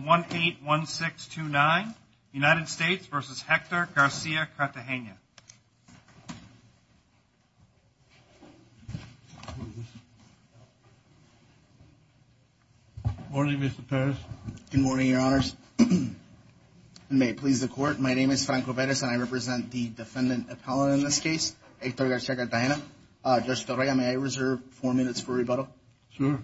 1-816-29 United States v. Hector Garcia-Cartagena Good morning, Mr. Perez. Good morning, Your Honors. May it please the Court, my name is Franco Perez and I represent the defendant appellate in this case, Hector Garcia-Cartagena. Judge Torreya, may I reserve four minutes for rebuttal? Sure.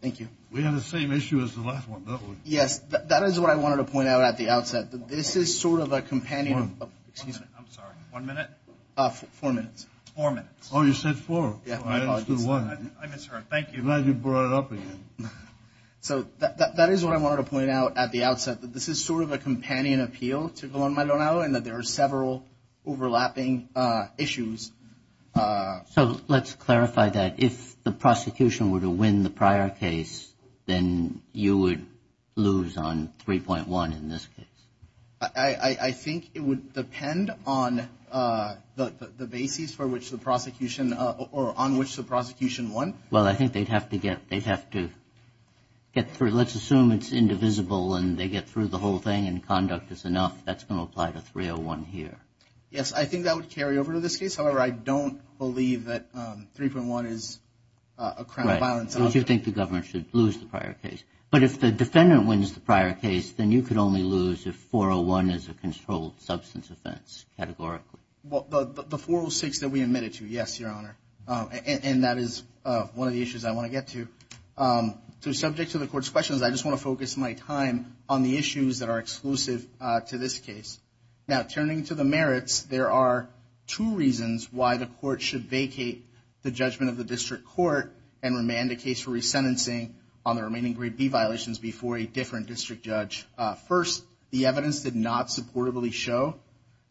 Thank you. We had the same issue as the last one, didn't we? Yes, that is what I wanted to point out at the outset. This is sort of a companion of... Excuse me. I'm sorry. One minute? Four minutes. Four minutes. Oh, you said four. I understood one. I misheard. Thank you. I'm glad you brought it up again. So that is what I wanted to point out at the outset, that this is sort of a companion appeal to Guantanamo and that there are several overlapping issues. So let's clarify that. If the prosecution were to win the prior case, then you would lose on 3.1 in this case. I think it would depend on the basis for which the prosecution or on which the prosecution won. Well, I think they'd have to get through. Let's assume it's indivisible and they get through the whole thing and conduct is enough. That's going to apply to 3.01 here. Yes, I think that would carry over to this case. However, I don't believe that 3.1 is a crime of violence. Right. So you think the government should lose the prior case. But if the defendant wins the prior case, then you could only lose if 4.01 is a controlled substance offense categorically. Well, the 4.06 that we admitted to, yes, Your Honor. And that is one of the issues I want to get to. So subject to the court's questions, I just want to focus my time on the issues that are exclusive to this case. Now, turning to the merits, there are two reasons why the court should vacate the judgment of the district court and remand a case for resentencing on the remaining Grade B violations before a different district judge. First, the evidence did not supportably show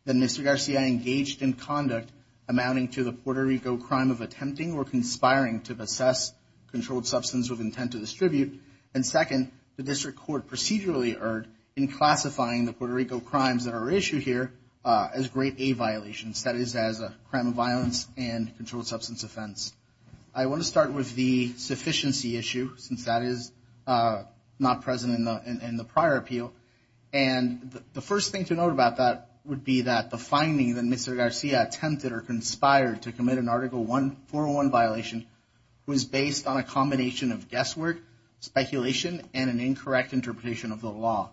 that Mr. Garcia engaged in conduct amounting to the Puerto Rico crime of attempting or conspiring to possess controlled substance with intent to distribute. And second, the district court procedurally erred in classifying the Puerto Rico crimes that are issued here as Grade A violations, that is, as a crime of violence and controlled substance offense. I want to start with the sufficiency issue, since that is not present in the prior appeal. And the first thing to note about that would be that the finding that Mr. Garcia attempted or conspired to commit an Article 401 violation was based on a combination of guesswork, speculation, and an incorrect interpretation of the law.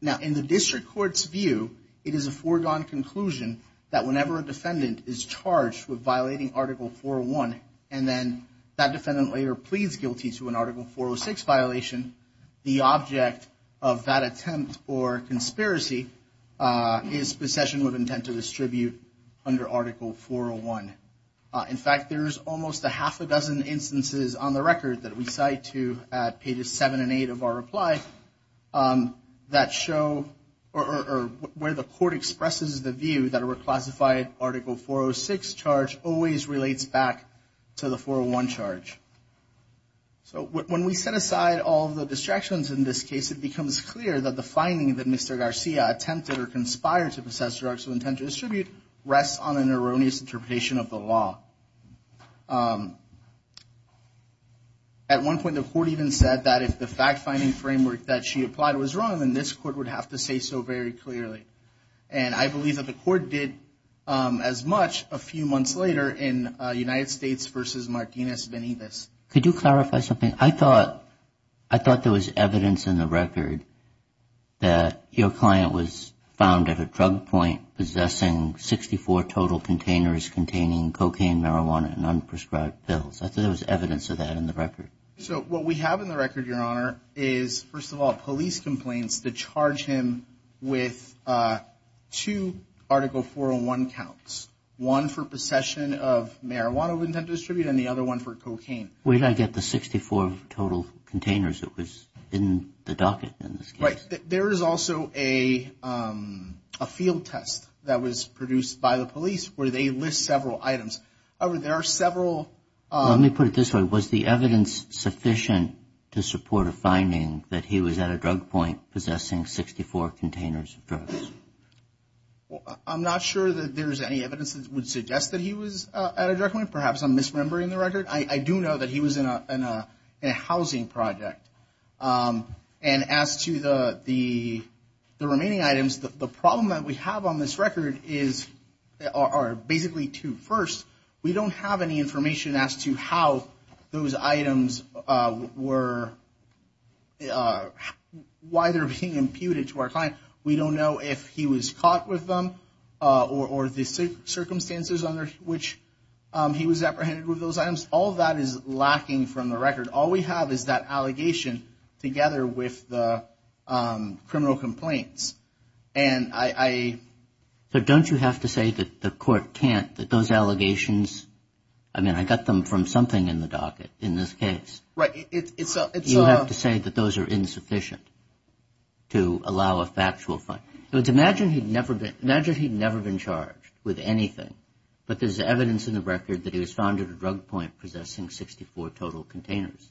Now, in the district court's view, it is a foregone conclusion that whenever a defendant is charged with violating Article 401 and then that defendant later pleads guilty to an Article 406 violation, the object of that attempt or conspiracy is possession with intent to distribute under Article 401. In fact, there is almost a half a dozen instances on the record that we cite to at pages 7 and 8 of our reply that show or where the court expresses the view that a reclassified Article 406 charge always relates back to the 401 charge. So when we set aside all the distractions in this case, it becomes clear that the finding that Mr. Garcia attempted or conspired to possess drugs with intent to distribute rests on an erroneous interpretation of the law. At one point, the court even said that if the fact-finding framework that she applied was wrong, then this court would have to say so very clearly. And I believe that the court did as much a few months later in United States v. Martinez-Benitez. Could you clarify something? I thought there was evidence in the record that your client was found at a drug point possessing 64 total containers containing cocaine, marijuana, and unprescribed pills. I thought there was evidence of that in the record. So what we have in the record, Your Honor, is, first of all, police complaints that charge him with two Article 401 counts, one for possession of marijuana with intent to distribute and the other one for cocaine. Where did I get the 64 total containers that was in the docket in this case? There is also a field test that was produced by the police where they list several items. There are several. Let me put it this way. Was the evidence sufficient to support a finding that he was at a drug point possessing 64 containers of drugs? I'm not sure that there's any evidence that would suggest that he was at a drug point. Perhaps I'm misremembering the record. I do know that he was in a housing project. And as to the remaining items, the problem that we have on this record are basically two. First, we don't have any information as to how those items were, why they're being imputed to our client. We don't know if he was caught with them or the circumstances under which he was apprehended with those items. All that is lacking from the record. All we have is that allegation together with the criminal complaints. And I. But don't you have to say that the court can't, that those allegations, I mean, I got them from something in the docket in this case. Right. You have to say that those are insufficient to allow a factual. Imagine he'd never been. Imagine he'd never been charged with anything. But there's evidence in the record that he was found at a drug point possessing 64 total containers.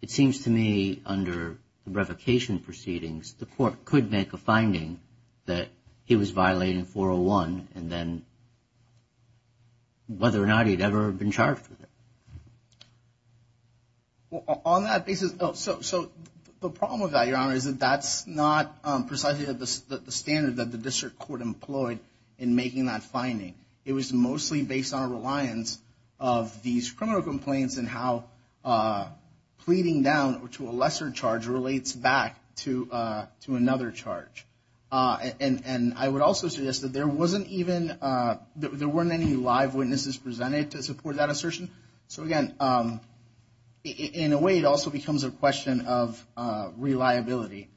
It seems to me under the revocation proceedings, the court could make a finding that he was violating 401 and then. Whether or not he'd ever been charged with it. Well, on that basis. So the problem with that, your honor, is that that's not precisely the standard that the district court employed in making that finding. It was mostly based on a reliance of these criminal complaints and how pleading down to a lesser charge relates back to to another charge. And I would also suggest that there wasn't even there weren't any live witnesses presented to support that assertion. So, again, in a way, it also becomes a question of reliability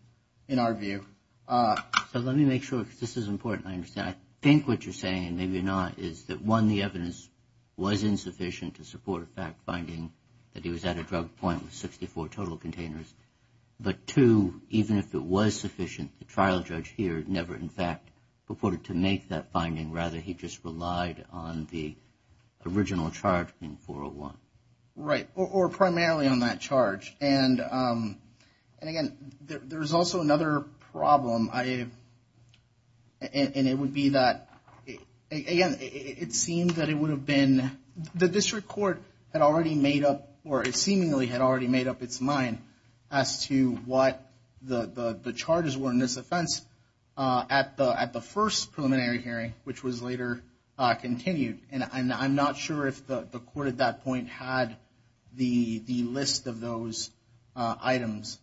in our view. So let me make sure this is important. I think what you're saying, maybe not, is that one, the evidence was insufficient to support a fact finding that he was at a drug point with 64 total containers. But two, even if it was sufficient, the trial judge here never, in fact, reported to make that finding. Rather, he just relied on the original charge in 401. Right. Or primarily on that charge. And again, there is also another problem. And it would be that, again, it seems that it would have been the district court had already made up or seemingly had already made up its mind as to what the charges were in this offense at the at the first preliminary hearing, which was later continued. And I'm not sure if the court at that point had the list of those items.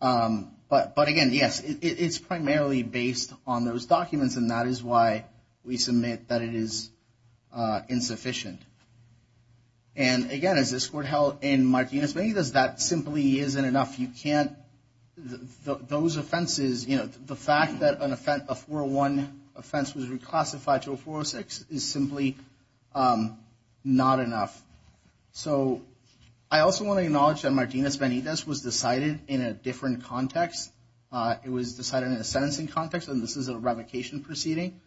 But but again, yes, it's primarily based on those documents. And that is why we submit that it is insufficient. And again, as this court held in Martinez Vegas, that simply isn't enough. You can't those offenses. You know, the fact that an offense before one offense was reclassified to a four or six is simply not enough. So I also want to acknowledge that Martinez Benitez was decided in a different context. It was decided in a sentencing context. And this is a revocation proceeding.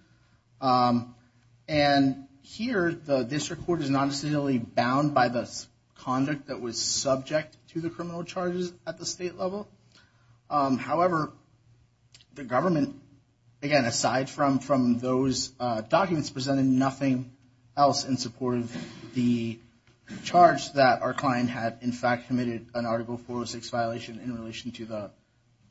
And here, the district court is not necessarily bound by this conduct that was subject to the criminal charges at the state level. However, the government, again, aside from from those documents, presented nothing else in support of the charge that our client had, in fact, committed an article for six violation in relation to the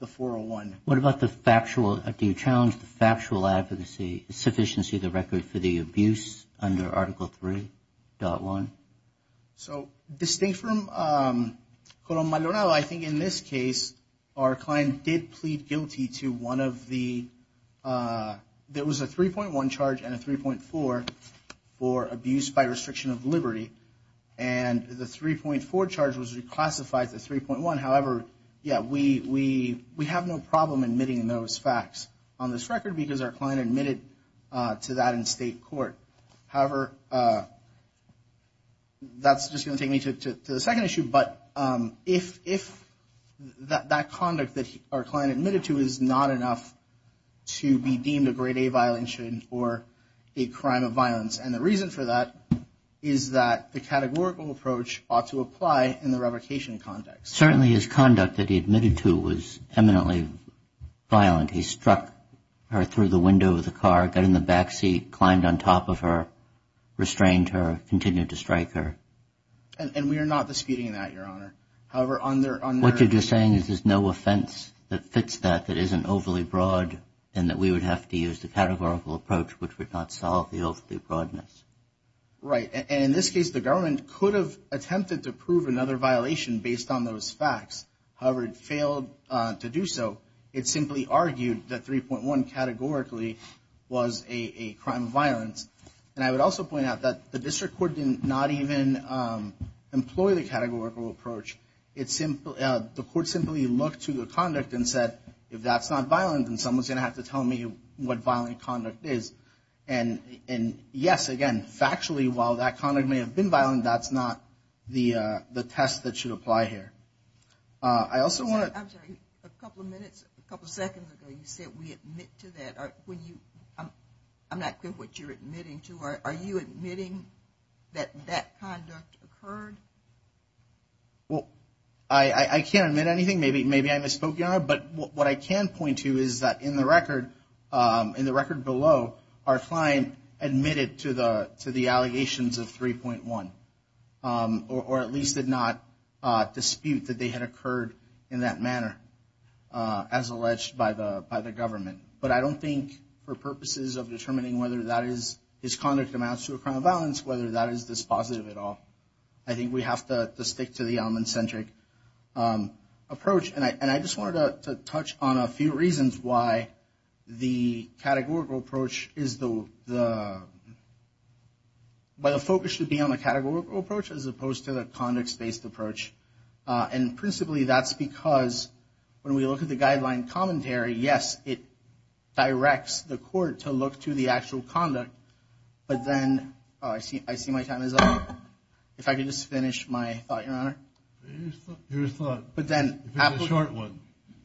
the 401. What about the factual? Do you challenge the factual advocacy? Sufficiency of the record for the abuse under Article three dot one. So distinct from my don't know. I think in this case, our client did plead guilty to one of the there was a three point one charge and a three point four for abuse by restriction of liberty. And the three point four charge was reclassified to three point one. However, yeah, we we we have no problem admitting those facts on this record because our client admitted to that in state court. However, that's just going to take me to the second issue. But if if that conduct that our client admitted to is not enough to be deemed a grade A violation or a crime of violence. And the reason for that is that the categorical approach ought to apply in the revocation context. Certainly his conduct that he admitted to was eminently violent. He struck her through the window of the car, got in the backseat, climbed on top of her, restrained her, continued to strike her. And we are not disputing that, Your Honor. What you're just saying is there's no offense that fits that that isn't overly broad and that we would have to use the categorical approach, which would not solve the broadness. Right. And in this case, the government could have attempted to prove another violation based on those facts. However, it failed to do so. It simply argued that three point one categorically was a crime of violence. And I would also point out that the district court did not even employ the categorical approach. The court simply looked to the conduct and said, if that's not violent, then someone's going to have to tell me what violent conduct is. And yes, again, factually, while that conduct may have been violent, that's not the test that should apply here. I'm sorry, a couple of minutes, a couple of seconds ago, you said we admit to that. I'm not clear what you're admitting to. Are you admitting that that conduct occurred? Well, I can't admit anything. Maybe I misspoke, Your Honor. But what I can point to is that in the record, in the record below, our client admitted to the allegations of three point one, or at least did not dispute that they had occurred in that manner as alleged by the government. But I don't think for purposes of determining whether that is, his conduct amounts to a crime of violence, whether that is dispositive at all. I think we have to stick to the almond-centric approach. And I just wanted to touch on a few reasons why the categorical approach is the, why the focus should be on the categorical approach as opposed to the conduct-based approach. And principally, that's because when we look at the guideline commentary, yes, it directs the court to look to the actual conduct. But then, I see my time is up. If I could just finish my thought, Your Honor. Your thought. But then,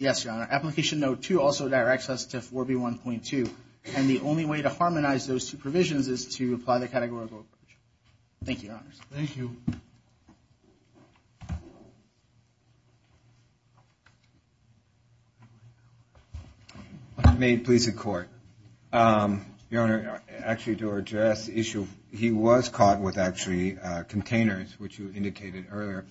application note two also directs us to 4B1.2. And the only way to harmonize those two provisions is to apply the categorical approach. Thank you, Your Honor. Thank you. May it please the Court. Your Honor, actually to address the issue, he was caught with actually containers, which you indicated earlier,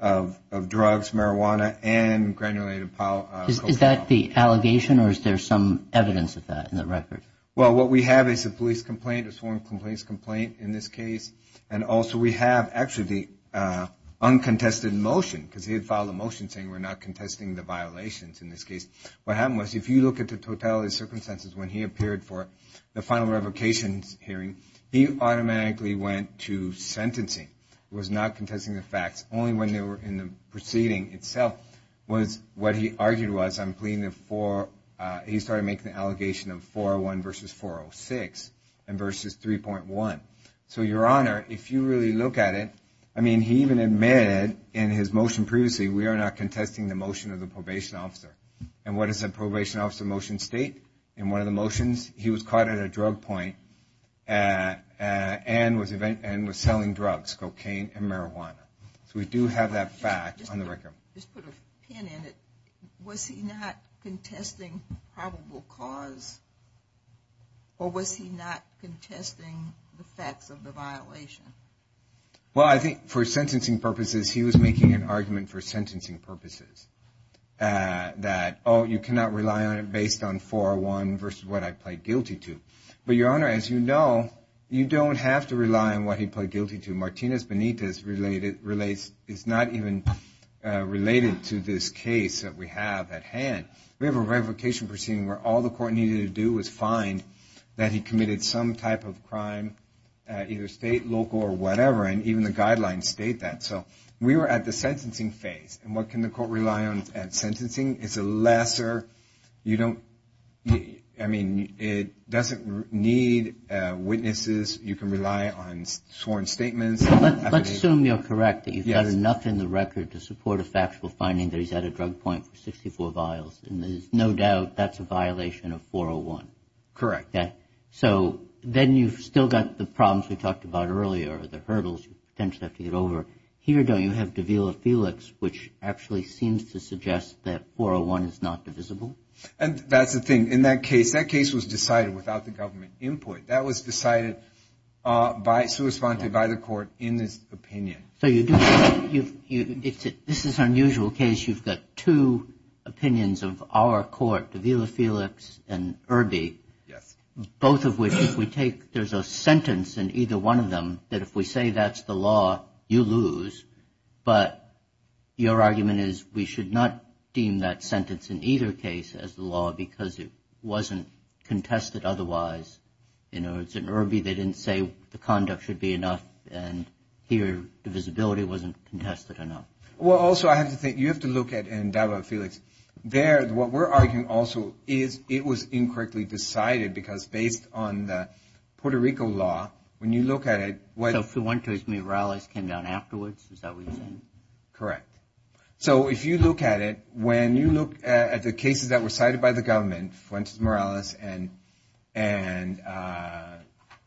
of drugs, marijuana, and granulated cocaine. Is that the allegation or is there some evidence of that in the record? Well, what we have is a police complaint, a sworn complaints complaint in this case. And also, we have actually the uncontested motion because he had filed a motion saying we're not contesting the violations in this case. What happened was, if you look at the totality of circumstances when he appeared for the final revocations hearing, he automatically went to sentencing. He was not contesting the facts. Only when they were in the proceeding itself was what he argued was, I'm pleading for, he started making the allegation of 401 versus 406 and versus 3.1. So, Your Honor, if you really look at it, I mean, he even admitted in his motion previously, we are not contesting the motion of the probation officer. And what does the probation officer motion state? In one of the motions, he was caught at a drug point and was selling drugs, cocaine and marijuana. So, we do have that fact on the record. Just put a pin in it. Was he not contesting probable cause or was he not contesting the facts of the violation? Well, I think for sentencing purposes, he was making an argument for sentencing purposes that, oh, you cannot rely on it based on 401 versus what I pled guilty to. But, Your Honor, as you know, you don't have to rely on what he pled guilty to. Martinez Benitez is not even related to this case that we have at hand. We have a revocation proceeding where all the court needed to do was find that he committed some type of crime, either state, local or whatever. And even the guidelines state that. So, we were at the sentencing phase. And what can the court rely on at sentencing? It's a lesser, you don't, I mean, it doesn't need witnesses. You can rely on sworn statements. Let's assume you're correct, that you've got enough in the record to support a factual finding that he's had a drug point for 64 vials. And there's no doubt that's a violation of 401. Correct. So, then you've still got the problems we talked about earlier, the hurdles you potentially have to get over. Here, though, you have Davila Felix, which actually seems to suggest that 401 is not divisible. And that's the thing. In that case, that case was decided without the government input. That was decided by, corresponded by the court in this opinion. So, you do, this is an unusual case. You've got two opinions of our court, Davila Felix and Irby. Yes. Both of which, if we take, there's a sentence in either one of them that if we say that's the law, you lose. But your argument is we should not deem that sentence in either case as the law because it wasn't contested otherwise. In Irby, they didn't say the conduct should be enough. And here, divisibility wasn't contested enough. Well, also, I have to think, you have to look at, and Davila Felix, there, what we're arguing also is it was incorrectly decided because based on the Puerto Rico law, when you look at it. So, Fuentes Morales came down afterwards, is that what you're saying? Correct. So, if you look at it, when you look at the cases that were decided by the government, Fuentes Morales and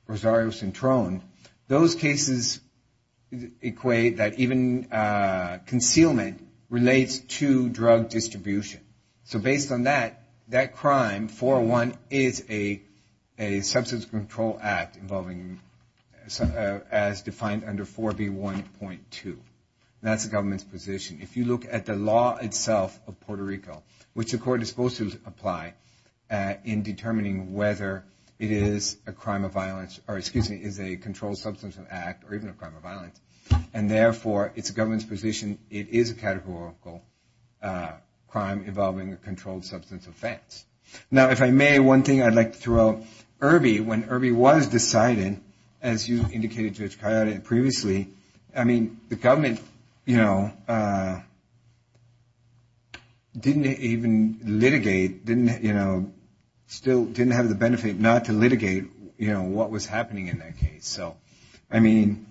Rosario Centron, those cases equate that even concealment relates to drug distribution. So, based on that, that crime, 401, is a substance control act involving, as defined under 4B1.2. That's the government's position. If you look at the law itself of Puerto Rico, which the court is supposed to apply in determining whether it is a crime of violence, or excuse me, is a controlled substance of act or even a crime of violence, and therefore, it's the government's position, it is a categorical crime involving a controlled substance offense. Now, if I may, one thing I'd like to throw out, Irby, when Irby was decided, as you indicated, Judge Coyote, previously, I mean, the government, you know, didn't even litigate, didn't, you know, still didn't have the benefit not to litigate, you know, what was happening in that case. So, I mean,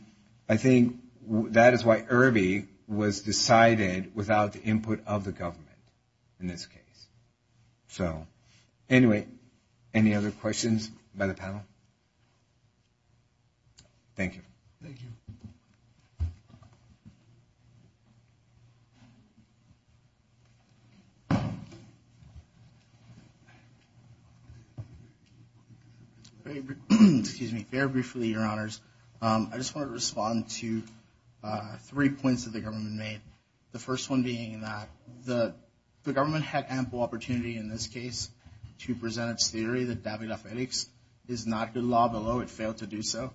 I think that is why Irby was decided without the input of the government in this case. So, anyway, any other questions by the panel? Thank you. Thank you. Thank you. Excuse me. Very briefly, Your Honors, I just want to respond to three points that the government made. The first one being that the government had ample opportunity in this case to present its theory that David F. Eddix is not good law, although it failed to do so.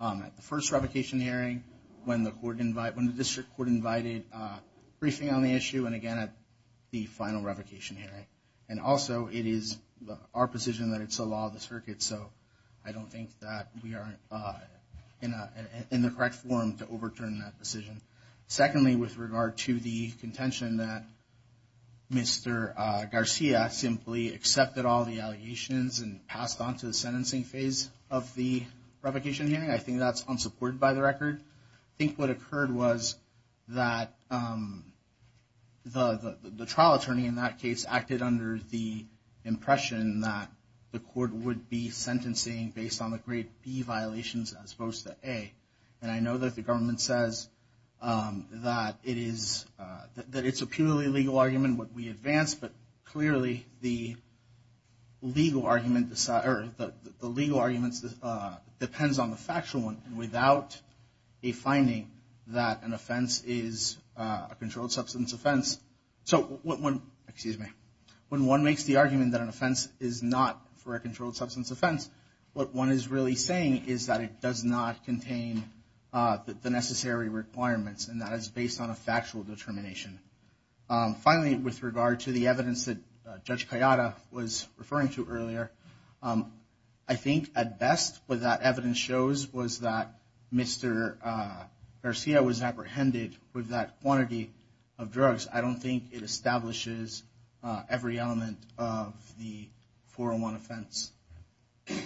At the first revocation hearing, when the court invited, when the district court invited briefing on the issue, and again at the final revocation hearing. And also, it is our position that it's a law of the circuit, so I don't think that we are in the correct forum to overturn that decision. Secondly, with regard to the contention that Mr. Garcia simply accepted all the allegations and passed on to the sentencing phase of the revocation hearing, I think that's unsupported by the record. I think what occurred was that the trial attorney in that case acted under the impression that the court would be sentencing based on the grade B violations as opposed to A. And I know that the government says that it is, that it's a purely legal argument, what we advance, but clearly the legal argument, or the legal arguments depends on the factual one, and without a finding that an offense is a controlled substance offense. So when, excuse me, when one makes the argument that an offense is not for a controlled substance offense, what one is really saying is that it does not contain the necessary requirements, and that is based on a factual determination. Finally, with regard to the evidence that Judge Kayada was referring to earlier, I think at best what that evidence shows was that Mr. Garcia was apprehended with that quantity of drugs. I don't think it establishes every element of the 401 offense. If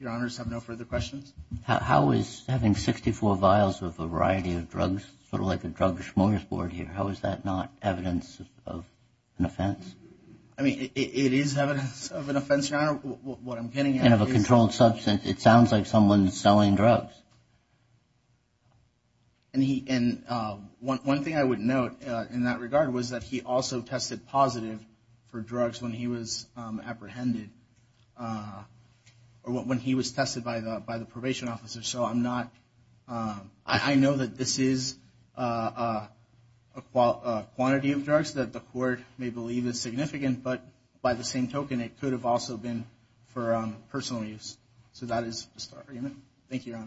your honors have no further questions. How is having 64 vials of a variety of drugs sort of like a drug smorgasbord here? How is that not evidence of an offense? I mean, it is evidence of an offense, your honor. What I'm getting at is. And of a controlled substance. It sounds like someone is selling drugs. And one thing I would note in that regard was that he also tested positive for drugs when he was apprehended, or when he was tested by the probation officer. So I'm not. I know that this is a quantity of drugs that the court may believe is significant, but by the same token, it could have also been for personal use. So that is the story. Thank you, your honors.